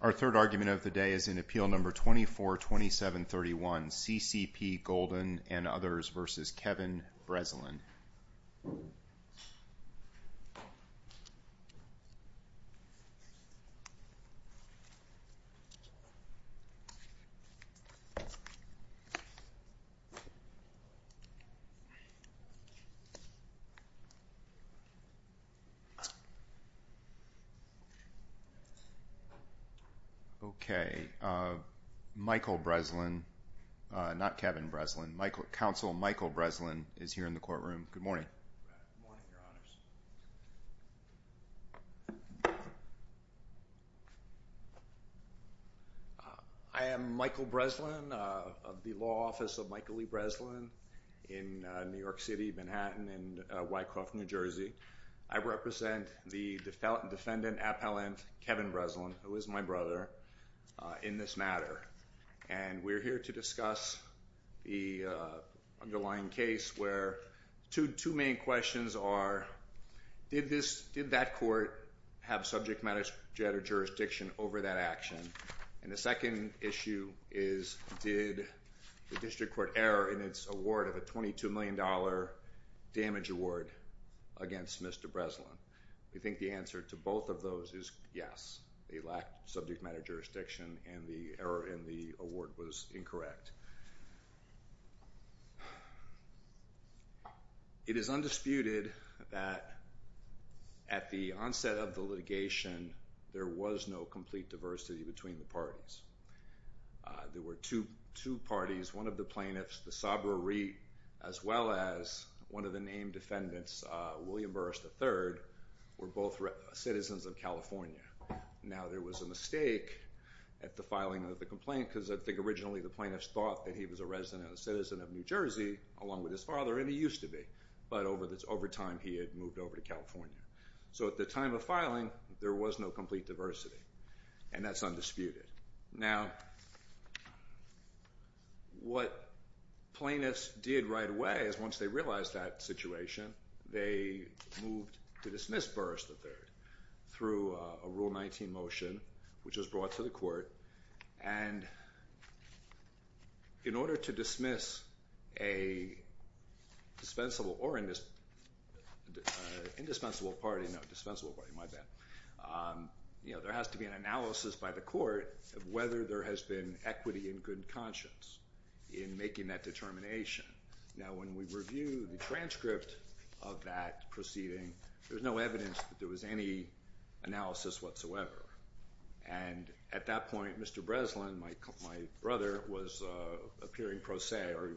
Our third argument of the day is in Appeal No. 242731, CCP Golden and Others v. Kevin Breslin. Okay, Michael Breslin, not Kevin Breslin, Counsel Michael Breslin is here in the courtroom. Good morning. I am Michael Breslin of the Law Office of Michael E. Breslin in New York City, Manhattan and Wycroft, New Jersey. I represent the defendant appellant, Kevin Breslin, who is my brother, in this matter. And we're here to discuss the underlying case where two main questions are, did that court have subject matter jurisdiction over that action? And the second issue is, did the district court err in its award of a $22 million damage award against Mr. Breslin? We think the answer to both of those is yes, they lacked subject matter jurisdiction and the error in the award was incorrect. It is undisputed that at the onset of the litigation, there was no complete diversity between the parties. There were two parties, one of the plaintiffs, the Sabra Reet, as well as one of the named defendants, William Burris III, were both citizens of California. Now there was a mistake at the filing of the complaint because I think originally the plaintiffs thought that he was a resident and a citizen of New Jersey along with his father, and he used to be, but over time he had moved over to California. So at the time of filing, there was no complete diversity and that's undisputed. Now what plaintiffs did right away is once they realized that situation, they moved to dismiss Burris III through a Rule 19 motion, which was brought to the court, and in order to dismiss a dispensable or indispensable party, no, dispensable party, my bad, there has to be an analysis by the court of whether there has been equity and good conscience in making that determination. Now when we review the transcript of that proceeding, there's no evidence that there was any analysis whatsoever. And at that point, Mr. Breslin, my brother, was appearing pro se, or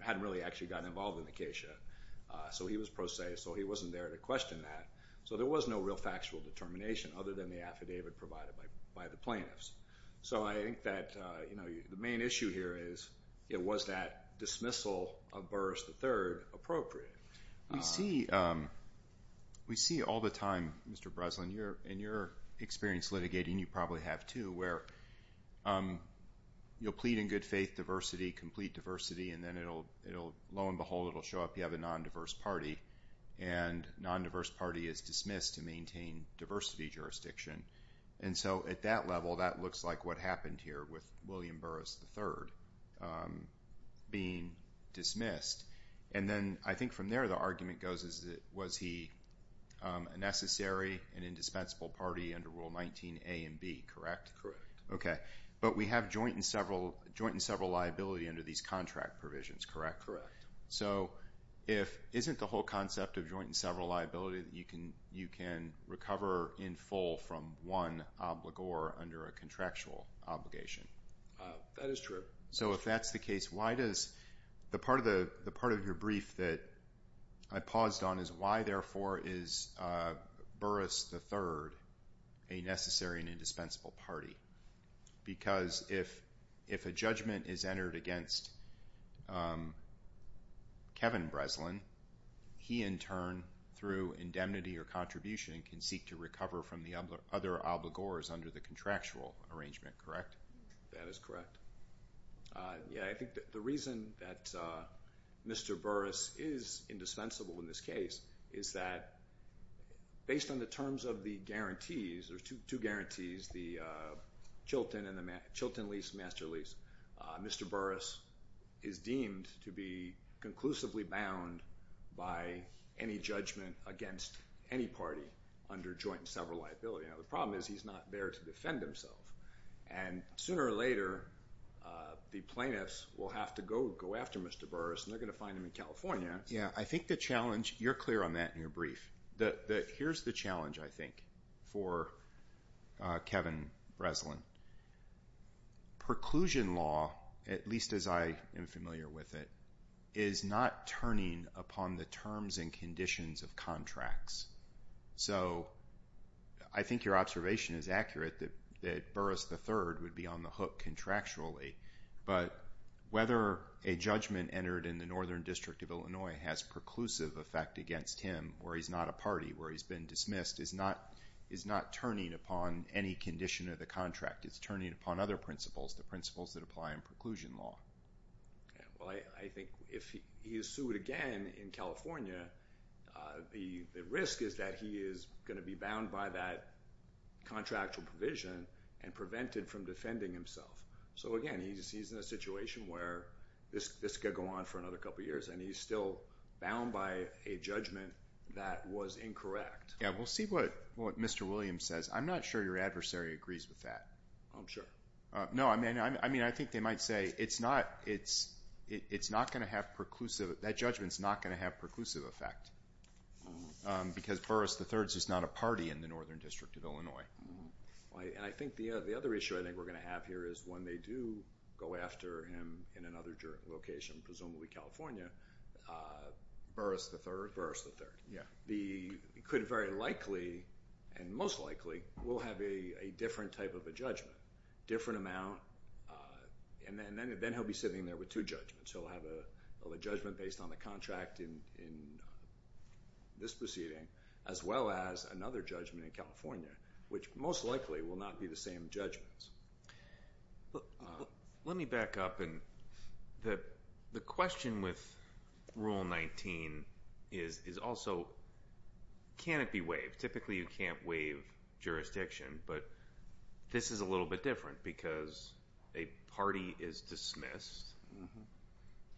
hadn't really actually gotten involved in the case yet, so he was pro se, so he wasn't there to question that. So there was no real factual determination other than the affidavit provided by the plaintiffs. So I think that the main issue here is, was that dismissal of Burris III appropriate? We see all the time, Mr. Breslin, in your experience litigating, you probably have too, where you'll plead in good faith diversity, complete diversity, and then low and behold it'll show up, you have a non-diverse party, and non-diverse party is dismissed to maintain diversity jurisdiction. So at that level, that looks like what happened here with William Burris III being dismissed. And then I think from there, the argument goes, was he a necessary and indispensable party under Rule 19a and b, correct? Correct. Okay. But we have joint and several liability under these contract provisions, correct? So isn't the whole concept of joint and several liability that you can recover in full from one obligor under a contractual obligation? That is true. So if that's the case, why does, the part of your brief that I paused on is why therefore is Burris III a necessary and indispensable party? Because if a judgment is entered against Kevin Breslin, he in turn, through indemnity or contribution, can seek to recover from the other obligors under the contractual arrangement, correct? That is correct. Yeah, I think that the reason that Mr. Burris is indispensable in this case is that based on the terms of the guarantees, there's two guarantees, the Chilton and the Chilton lease, master lease, Mr. Burris is deemed to be conclusively bound by any judgment against any party under joint and several liability. Now, the problem is he's not there to defend himself. And sooner or later, the plaintiffs will have to go after Mr. Burris, and they're going to find him in California. Yeah, I think the challenge, you're clear on that in your brief, that here's the challenge, I think, for Kevin Breslin. Preclusion law, at least as I am familiar with it, is not turning upon the terms and conditions of contracts. So, I think your observation is accurate that Burris III would be on the hook contractually, but whether a judgment entered in the Northern District of Illinois has preclusive effect against him, where he's not a party, where he's been dismissed, is not turning upon any condition of the contract. It's turning upon other principles, the principles that apply in preclusion law. Well, I think if he is sued again in California, the risk is that he is going to be bound by that contractual provision and prevented from defending himself. So, again, he's in a situation where this could go on for another couple years, and he's still bound by a judgment that was incorrect. Yeah, we'll see what Mr. Williams says. I'm not sure your adversary agrees with that. I'm sure. No, I mean, I think they might say it's not going to have preclusive, that judgment's not going to have preclusive effect because Burris III is not a party in the Northern District of Illinois. And I think the other issue I think we're going to have here is when they do go after him in another location, presumably California, Burris III could very likely, and most likely, will have a different type of a judgment, different amount, and then he'll be sitting there with two judgments. He'll have a judgment based on the contract in this proceeding, as well as another judgment in California, which most likely will not be the same judgments. Let me back up, and the question with Rule 19 is also, can it be waived? Typically, you can't waive jurisdiction, but this is a little bit different because a party is dismissed,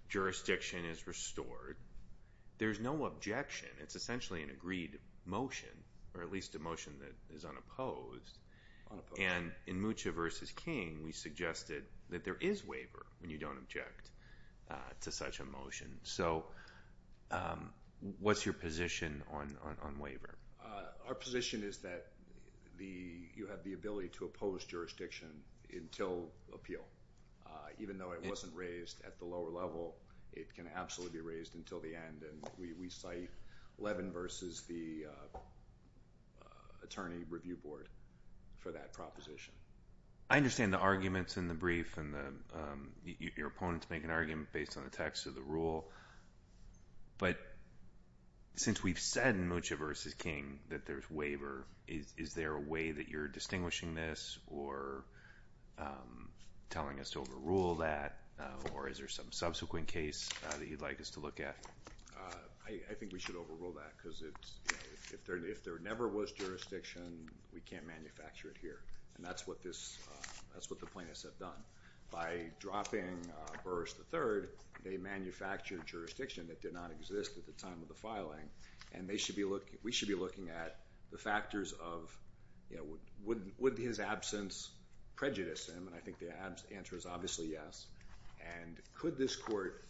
jurisdiction is restored. There's no objection. It's essentially an agreed motion, or at least a motion that is unopposed. And in Mucha v. King, we suggested that there is waiver when you don't object to such a motion. So what's your position on waiver? Our position is that you have the ability to oppose jurisdiction until appeal. Even though it wasn't raised at the lower level, it can absolutely be raised until the end, and we cite Levin v. the Attorney Review Board for that proposition. I understand the arguments in the brief, and your opponents make an argument based on the text of the rule. But since we've said in Mucha v. King that there's waiver, is there a way that you're distinguishing this or telling us to overrule that, or is there some subsequent case that you'd like us to look at? I think we should overrule that, because if there never was jurisdiction, we can't manufacture it here, and that's what the plaintiffs have done. By dropping Burris III, they manufactured jurisdiction that did not exist at the time of the filing, and we should be looking at the factors of, would his absence prejudice him? And I think the answer is obviously yes. And could this court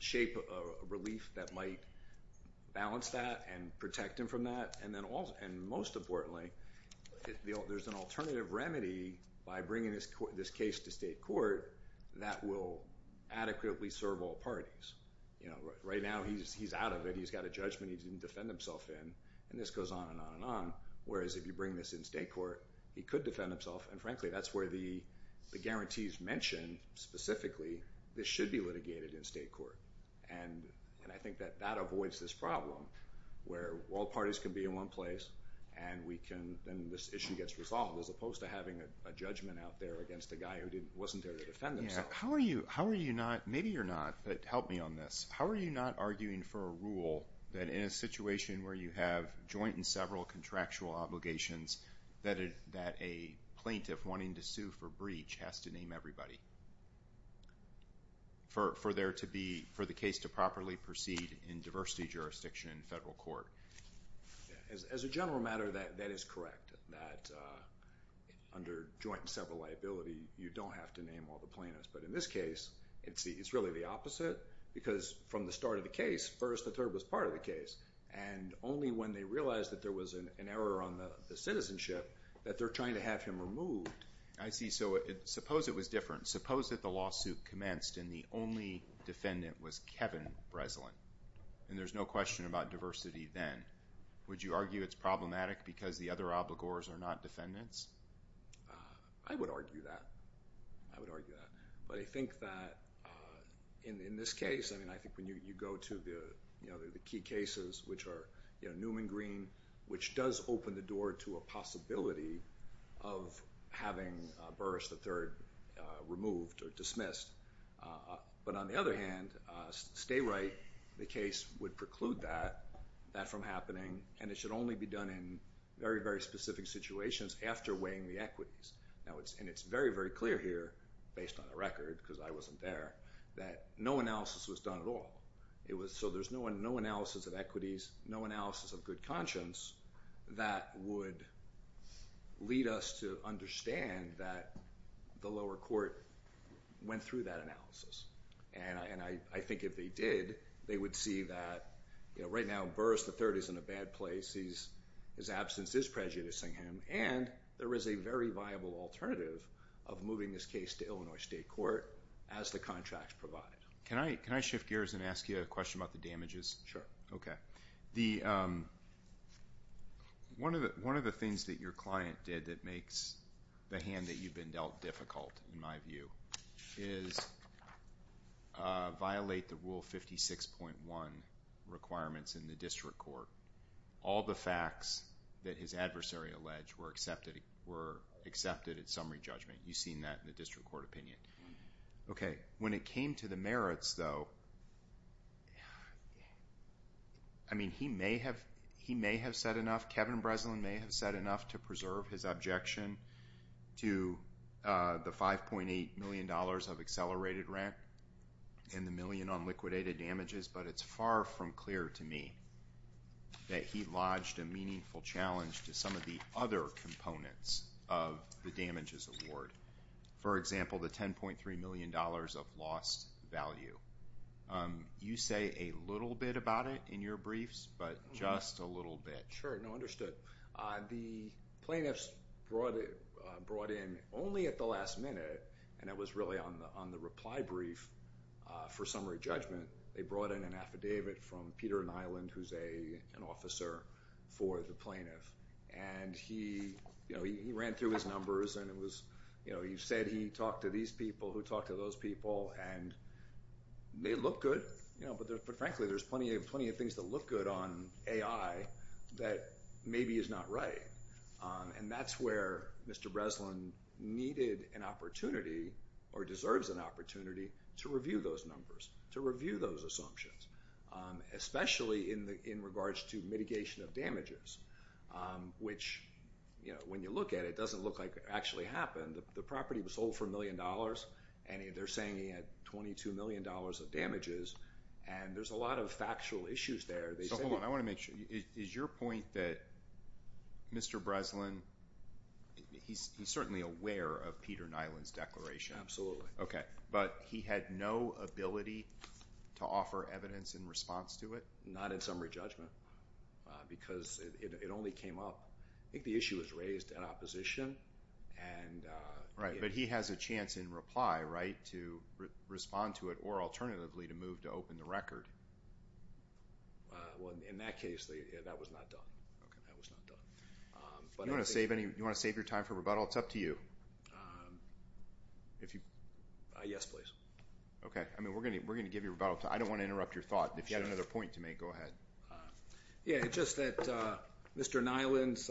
shape a relief that might balance that and protect him from that? And most importantly, there's an alternative remedy by bringing this case to state court that will adequately serve all parties. Right now, he's out of it. He's got a judgment he didn't defend himself in, and this goes on and on and on. Whereas if you bring this in state court, he could defend himself, and frankly, that's where the guarantees mention specifically, this should be litigated in state court. And I think that that avoids this problem, where all parties can be in one place, and we can, then this issue gets resolved, as opposed to having a judgment out there against a guy who wasn't there to defend himself. How are you not, maybe you're not, but help me on this. How are you not arguing for a rule that in a situation where you have joint and several contractual obligations, that a plaintiff wanting to sue for breach has to name everybody? For there to be, for the case to properly proceed in diversity jurisdiction in federal court. As a general matter, that is correct, that under joint and several liability, you don't have to name all the plaintiffs. But in this case, it's really the opposite, because from the start of the case, first the third was part of the case. And only when they realized that there was an error on the citizenship, that they're trying to have him removed. I see. So suppose it was different. Suppose that the lawsuit commenced and the only defendant was Kevin Breslin. And there's no question about diversity then. Would you argue it's problematic because the other obligors are not defendants? I would argue that. I would argue that. But I think that in, in this case, I mean, I think when you go to the, you know, the key cases, which are, you know, Newman Green, which does open the door to a possibility of having Burris III removed or dismissed. But on the other hand, stay right, the case would preclude that, that from happening. And it should only be done in very, very specific situations after weighing the equities. Now it's, and it's very, very clear here, based on the record, because I wasn't there, that no analysis was done at all. It was, so there's no analysis of equities, no analysis of good conscience that would lead us to understand that the lower court went through that analysis. And I, and I think if they did, they would see that, you know, right now Burris III is in a bad place. He's, his absence is prejudicing him. And there is a very viable alternative of moving this case to Illinois State Court as the contracts provide. Can I, can I shift gears and ask you a question about the damages? Okay. The, one of the, one of the things that your client did that makes the hand that you've been dealt difficult, in my view, is violate the Rule 56.1 requirements in the district court. All the facts that his adversary alleged were accepted, were accepted at summary judgment. You've seen that in the district court opinion. Okay. When it came to the merits, though, I mean, he may have, he may have said enough, Kevin Breslin may have said enough to preserve his objection to the $5.8 million of accelerated rent and the million on liquidated damages. But it's far from clear to me that he lodged a meaningful challenge to some of the other components of the damages award. For example, the $10.3 million of lost value. You say a little bit about it in your briefs, but just a little bit. Sure, no, understood. The plaintiffs brought it, brought in only at the last minute, and it was really on the reply brief for summary judgment. They brought in an affidavit from Peter Nyland, who's a, an officer for the plaintiff. And he, you know, he ran through his numbers, and it was, you know, he said he talked to these people who talked to those people, and they look good, you know, but frankly, there's plenty of, plenty of things that look good on AI that maybe is not right. And that's where Mr. Breslin needed an opportunity or deserves an opportunity to review those numbers, to review those assumptions, especially in the, in regards to mitigation of damages. Which, you know, when you look at it, it doesn't look like it actually happened. The property was sold for a million dollars, and they're saying he had $22 million of damages, and there's a lot of factual issues there. So hold on, I want to make sure, is your point that Mr. Breslin, he's certainly aware of Peter Nyland's declaration? Absolutely. Okay, but he had no ability to offer evidence in response to it? Not in summary judgment, because it only came up, I think the issue was raised in opposition, and... Right, but he has a chance in reply, right, to respond to it, or alternatively to move to open the record. Well, in that case, that was not done. Okay. That was not done. Do you want to save any, do you want to save your time for rebuttal? It's up to you. If you... Yes, please. Okay. I mean, we're going to, we're going to give you rebuttal. I don't want to interrupt your thought. If you had another point to make, go ahead. Yeah, it's just that Mr. Nyland's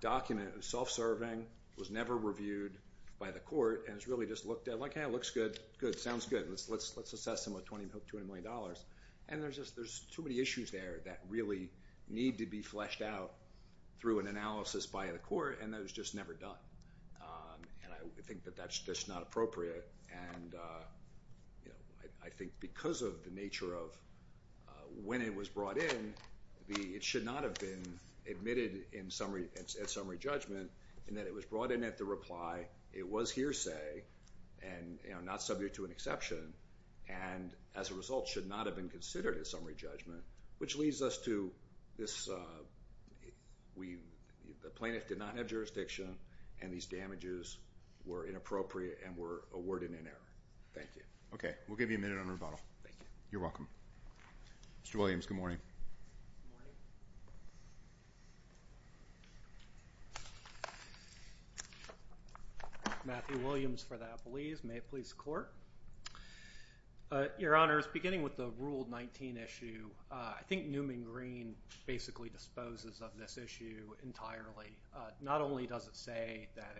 document was self-serving, was never reviewed by the court, and it's really just looked at like, hey, it looks good, good, sounds good, let's assess him with $20 million, and there's just, there's too many issues there that really need to be fleshed out through an analysis by the court, and that was just never done. And I think that that's just not appropriate, and, you know, I think because of the nature of when it was brought in, the, it should not have been admitted in summary, at summary judgment, in that it was brought in at the reply, it was hearsay, and, you know, not subject to an exception, and as a result should not have been considered a summary judgment, which leads us to this, we, the plaintiff did not have jurisdiction, and these damages were inappropriate and were awarded in error. Thank you. Okay. We'll give you a minute on rebuttal. Thank you. You're welcome. Mr. Williams, good morning. Good morning. Matthew Williams for the Appellees. May it please the court. Your Honors, beginning with the Rule 19 issue, I think Newman Green basically disposes of this issue entirely. Not only does it say that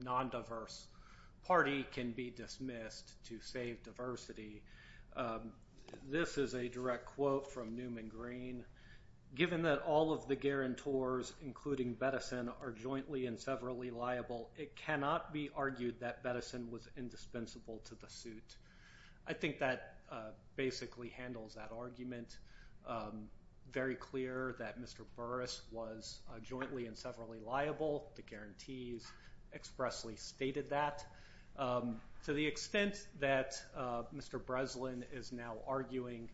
a non-diverse party can be dismissed to save diversity, this is a direct quote from Newman Green, given that all of the guarantors, including Bettison, are jointly and severally liable, it cannot be argued that Bettison was indispensable to the suit. I think that basically handles that argument. Very clear that Mr. Burris was jointly and severally liable. The guarantees expressly stated that. To the extent that Mr. Breslin is now arguing,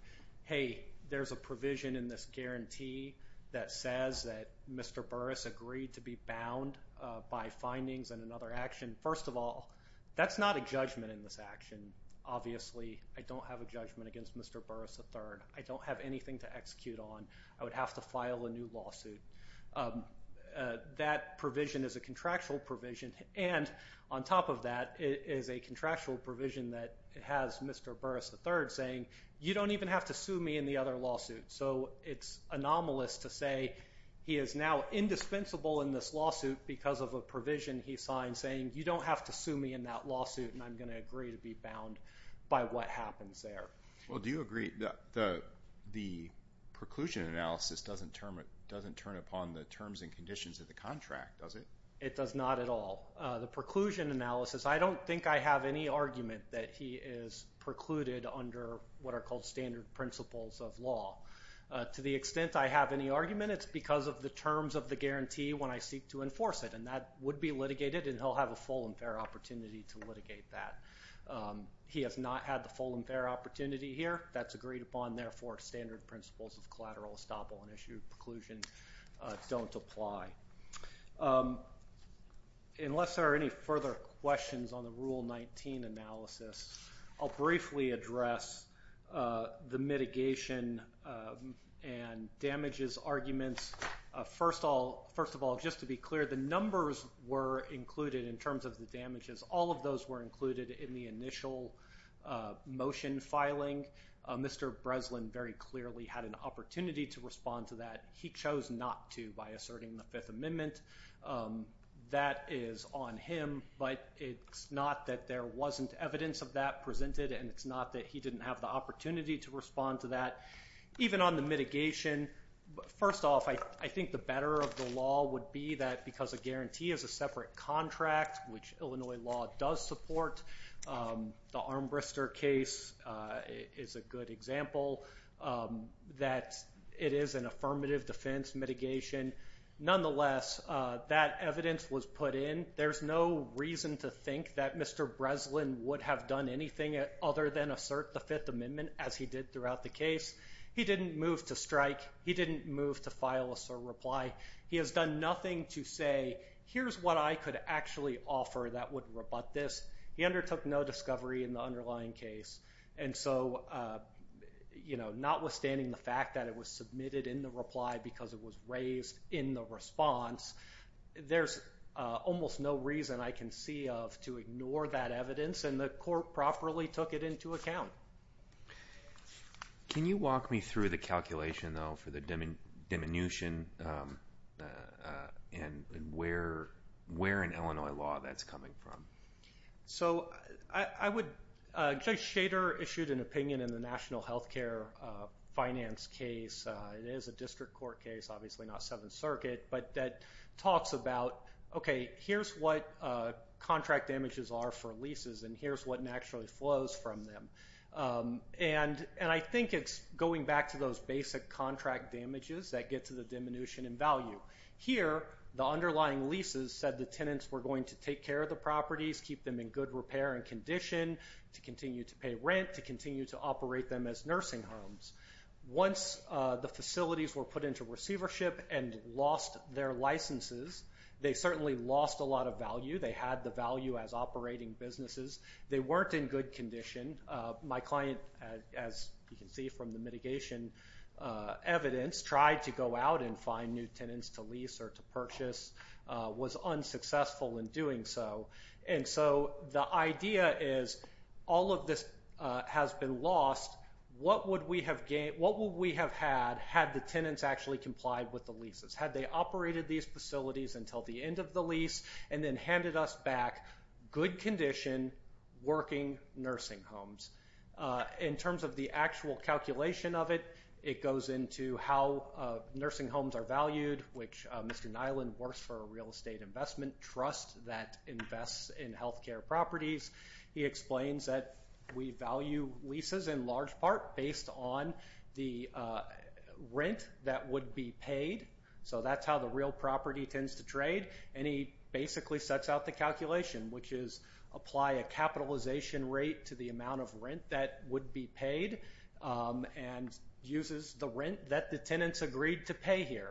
hey, there's a provision in this guarantee that says that Mr. Burris agreed to be bound by findings in another action. First of all, that's not a judgment in this action. Obviously, I don't have a judgment against Mr. Burris III. I don't have anything to execute on. I would have to file a new lawsuit. That provision is a contractual provision, and on top of that is a contractual provision that has Mr. Burris III saying, you don't even have to sue me in the other lawsuit. It's anomalous to say he is now indispensable in this lawsuit because of a provision he signed saying, you don't have to sue me in that lawsuit, and I'm going to agree to be bound by what happens there. Well, do you agree the preclusion analysis doesn't turn upon the terms and conditions of the contract, does it? It does not at all. The preclusion analysis, I don't think I have any argument that he is precluded under what are called standard principles of law. To the extent I have any argument, it's because of the terms of the guarantee when I seek to enforce it, and that would be litigated, and he'll have a full and fair opportunity to litigate that. He has not had the full and fair opportunity here. That's agreed upon. Therefore, standard principles of collateral estoppel and issued preclusion don't apply. Unless there are any further questions on the Rule 19 analysis, I'll briefly address the mitigation and damages arguments. First of all, just to be clear, the numbers were included in terms of the damages. All of those were included in the initial motion filing. Mr. Breslin very clearly had an opportunity to respond to that. He chose not to by asserting the Fifth Amendment. That is on him, but it's not that there wasn't evidence of that presented, and it's not that he didn't have the opportunity to respond to that. Even on the mitigation, first off, I think the better of the law would be that because a guarantee is a separate contract, which Illinois law does support, the Armbrister case is a good example that it is an affirmative defense mitigation. Nonetheless, that evidence was put in. There's no reason to think that Mr. Breslin would have done anything other than assert the Fifth Amendment, as he did throughout the case. He didn't move to strike. He didn't move to file a certain reply. He has done nothing to say, here's what I could actually offer that would rebut this. He undertook no discovery in the underlying case, and so notwithstanding the fact that it was submitted in the reply because it was raised in the response, there's almost no reason I can see of to ignore that evidence, and the court properly took it into account. Can you walk me through the calculation, though, for the diminution and where in Illinois law that's coming from? So, Judge Schader issued an opinion in the National Health Care Finance case. It is a district court case, obviously not Seventh Circuit, but that talks about, okay, here's what contract damages are for leases, and here's what naturally flows from them. And I think it's going back to those basic contract damages that get to the diminution in value. Here, the underlying leases said the tenants were going to take care of the properties, keep them in good repair and condition, to continue to pay rent, to continue to operate them as nursing homes. Once the facilities were put into receivership and lost their licenses, they certainly lost a lot of value. They had the value as operating businesses. They weren't in good condition. My client, as you can see from the mitigation evidence, tried to go out and find new tenants to lease or to purchase, was unsuccessful in doing so. And so, the idea is, all of this has been lost, what would we have had had the tenants actually complied with the leases? Had they operated these facilities until the end of the lease and then handed us back good condition, working nursing homes? In terms of the actual calculation of it, it goes into how nursing homes are valued, which Mr. Nyland works for a real estate investment trust that invests in healthcare properties. He explains that we value leases in large part based on the rent that would be paid. So, that's how the real property tends to trade. And he basically sets out the calculation, which is apply a capitalization rate to the amount of rent that would be paid and uses the rent that the tenants agreed to pay here.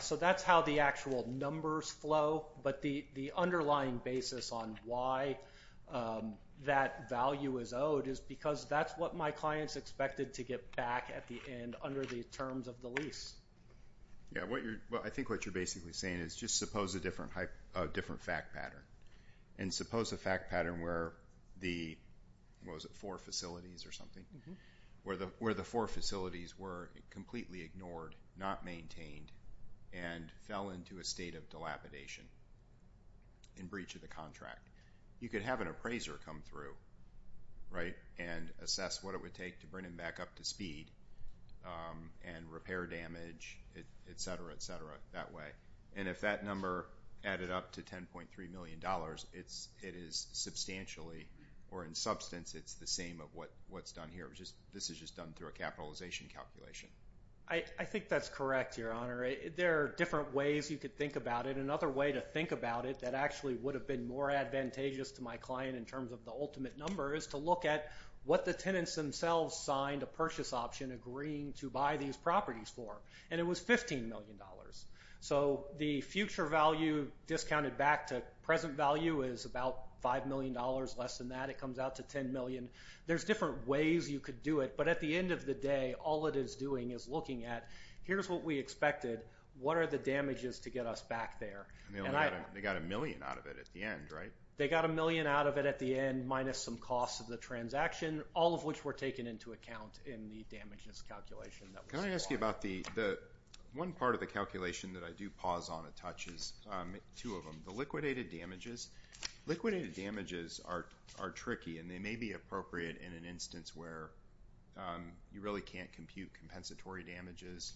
So, that's how the actual numbers flow. But the underlying basis on why that value is owed is because that's what my client's expected to get back at the end under the terms of the lease. Yeah, I think what you're basically saying is just suppose a different fact pattern. And suppose a fact pattern where the, what was it, four facilities or something? Where the four facilities were completely ignored, not maintained, and fell into a state of dilapidation in breach of the contract. You could have an appraiser come through, right, and assess what it would take to bring him back up to speed and repair damage, et cetera, et cetera, that way. And if that number added up to $10.3 million, it is substantially or in substance it's the this is just done through a capitalization calculation. I think that's correct, Your Honor. There are different ways you could think about it. Another way to think about it that actually would have been more advantageous to my client in terms of the ultimate number is to look at what the tenants themselves signed a purchase option agreeing to buy these properties for. And it was $15 million. So, the future value discounted back to present value is about $5 million, less than that. It comes out to $10 million. There's different ways you could do it. But at the end of the day, all it is doing is looking at, here's what we expected. What are the damages to get us back there? And they got a million out of it at the end, right? They got a million out of it at the end, minus some costs of the transaction, all of which were taken into account in the damages calculation. Can I ask you about the one part of the calculation that I do pause on a touch is two of them. The liquidated damages. Liquidated damages are tricky and they may be appropriate in an instance where you really can't compute compensatory damages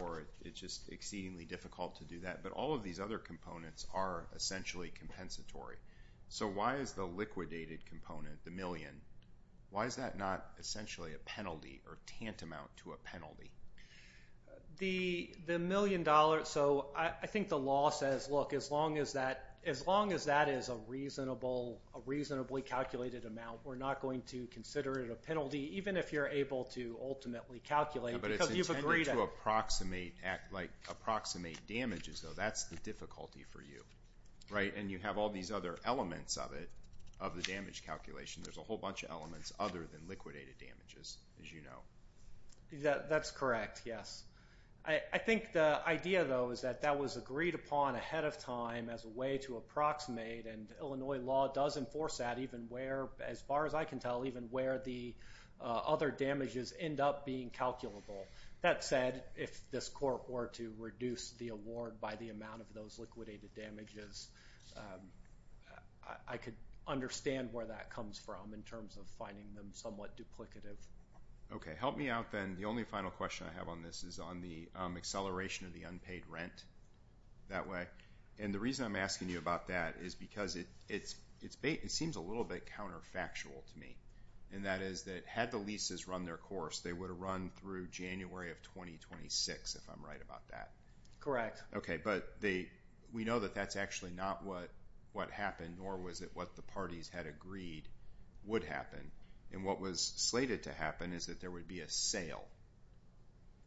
or it's just exceedingly difficult to do that. But all of these other components are essentially compensatory. So, why is the liquidated component, the million, why is that not essentially a penalty or tantamount to a penalty? The million dollars, so I think the law says, look, as long as that is a reasonably calculated amount, we're not going to consider it a penalty, even if you're able to ultimately calculate because you've agreed to- But it's intended to approximate damages, though. That's the difficulty for you, right? And you have all these other elements of it, of the damage calculation. There's a whole bunch of elements other than liquidated damages, as you know. That's correct, yes. I think the idea, though, is that that was agreed upon ahead of time as a way to approximate and Illinois law does enforce that even where, as far as I can tell, even where the other damages end up being calculable. That said, if this court were to reduce the award by the amount of those liquidated damages, I could understand where that comes from in terms of finding them somewhat duplicative. Okay, help me out then. The only final question I have on this is on the acceleration of the unpaid rent that way, and the reason I'm asking you about that is because it seems a little bit counterfactual to me, and that is that had the leases run their course, they would have run through January of 2026, if I'm right about that. Correct. Okay, but we know that that's actually not what happened, nor was it what the parties had agreed would happen, and what was slated to happen is that there would be a sale,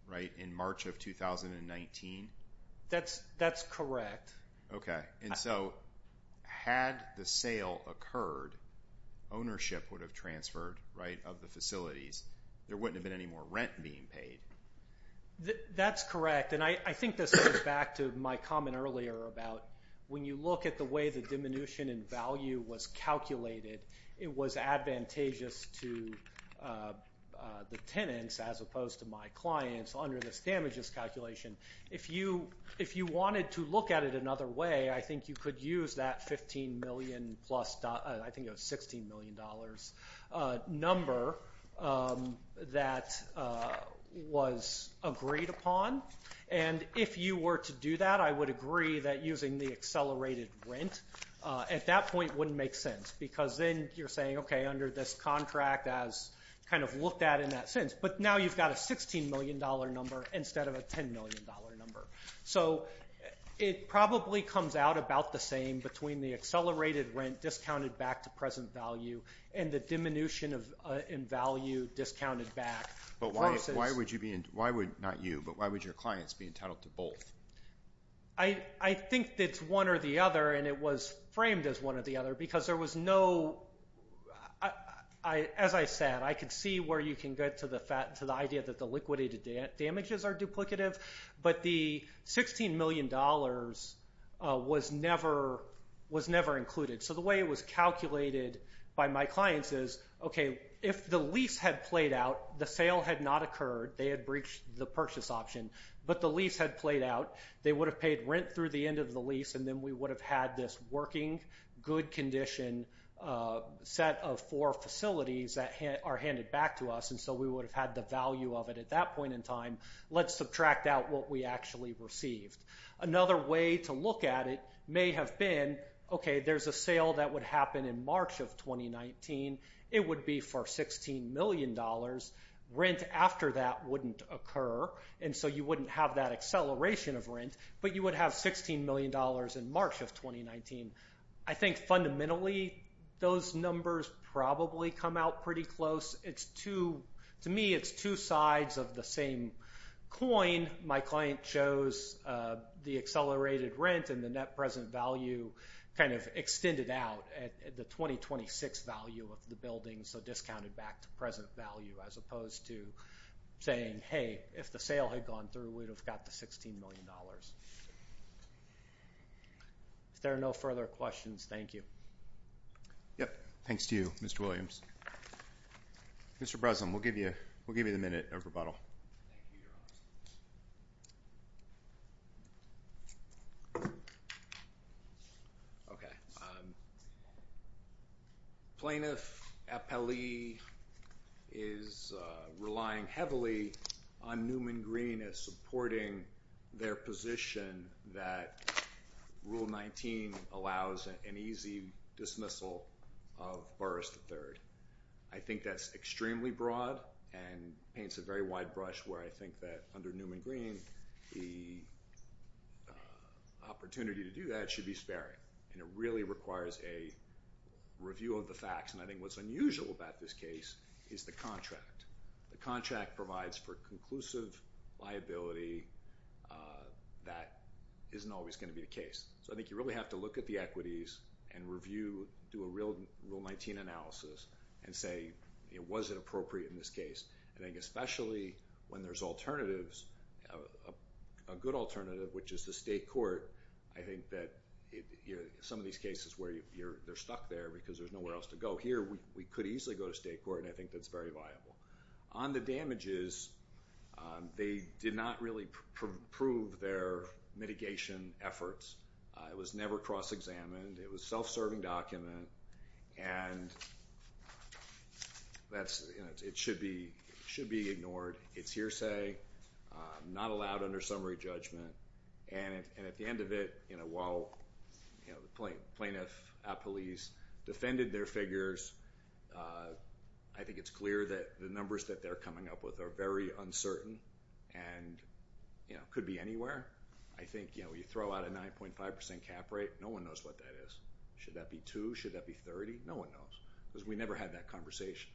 right, in March of 2019? That's correct. Okay, and so had the sale occurred, ownership would have transferred, right, of the facilities. There wouldn't have been any more rent being paid. That's correct, and I think this goes back to my comment earlier about when you look at the way the diminution in value was calculated, it was advantageous to the tenants as opposed to my clients under this damages calculation. If you wanted to look at it another way, I think you could use that $15 million plus, I think it was $16 million, number that was agreed upon, and if you were to do that, I agree that using the accelerated rent at that point wouldn't make sense because then you're saying, okay, under this contract as kind of looked at in that sense, but now you've got a $16 million number instead of a $10 million number. So it probably comes out about the same between the accelerated rent discounted back to present value and the diminution in value discounted back. But why would you be, not you, but why would your clients be entitled to both? I think it's one or the other, and it was framed as one or the other because there was no, as I said, I could see where you can get to the idea that the liquidated damages are duplicative, but the $16 million was never included. So the way it was calculated by my clients is, okay, if the lease had played out, the sale had not occurred, they had breached the purchase option, but the lease had played out, they would have paid rent through the end of the lease, and then we would have had this working, good condition set of four facilities that are handed back to us, and so we would have had the value of it at that point in time. Let's subtract out what we actually received. Another way to look at it may have been, okay, there's a sale that would happen in March of 2019, it would be for $16 million, rent after that wouldn't occur, and so you wouldn't have that acceleration of rent, but you would have $16 million in March of 2019. I think fundamentally those numbers probably come out pretty close. It's two, to me it's two sides of the same coin. My client chose the accelerated rent and the net present value kind of extended out at the 2026 value of the building, so discounted back to present value as opposed to saying, hey, if the sale had gone through, we'd have got the $16 million. If there are no further questions, thank you. Yep, thanks to you, Mr. Williams. Mr. Breslin, we'll give you the minute of rebuttal. Thank you, Your Honor. Okay. Plaintiff Appellee is relying heavily on Newman Green as supporting their position that Rule 19 allows an easy dismissal of Burris III. I think that's extremely broad and paints a very wide brush where I think that under Newman Green, the opportunity to do that should be sparing, and it really requires a review of the facts, and I think what's unusual about this case is the contract. The contract provides for conclusive liability that isn't always going to be the case, so I think you really have to look at the equities and review, do a Rule 19 analysis, and say, was it appropriate in this case, and I think especially when there's alternatives, a good alternative, which is the state court, I think that some of these cases where they're stuck there because there's nowhere else to go. Here, we could easily go to state court, and I think that's very viable. On the damages, they did not really prove their mitigation efforts. It was never cross-examined. It was a self-serving document, and it should be ignored. It's hearsay, not allowed under summary judgment, and at the end of it, while the plaintiff police defended their figures, I think it's clear that the numbers that they're coming up with are very uncertain and could be anywhere. I think you throw out a 9.5% cap rate, no one knows what that is. Should that be two? Should that be 30? No one knows because we never had that conversation,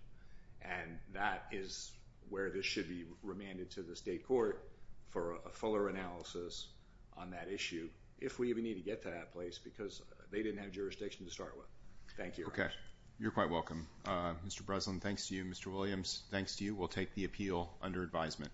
and that is where this should be remanded to the state court for a fuller analysis on that issue if we even need to get to that because they didn't have jurisdiction to start with. Thank you. Okay. You're quite welcome, Mr. Breslin. Thanks to you, Mr. Williams. Thanks to you. We'll take the appeal under advisement.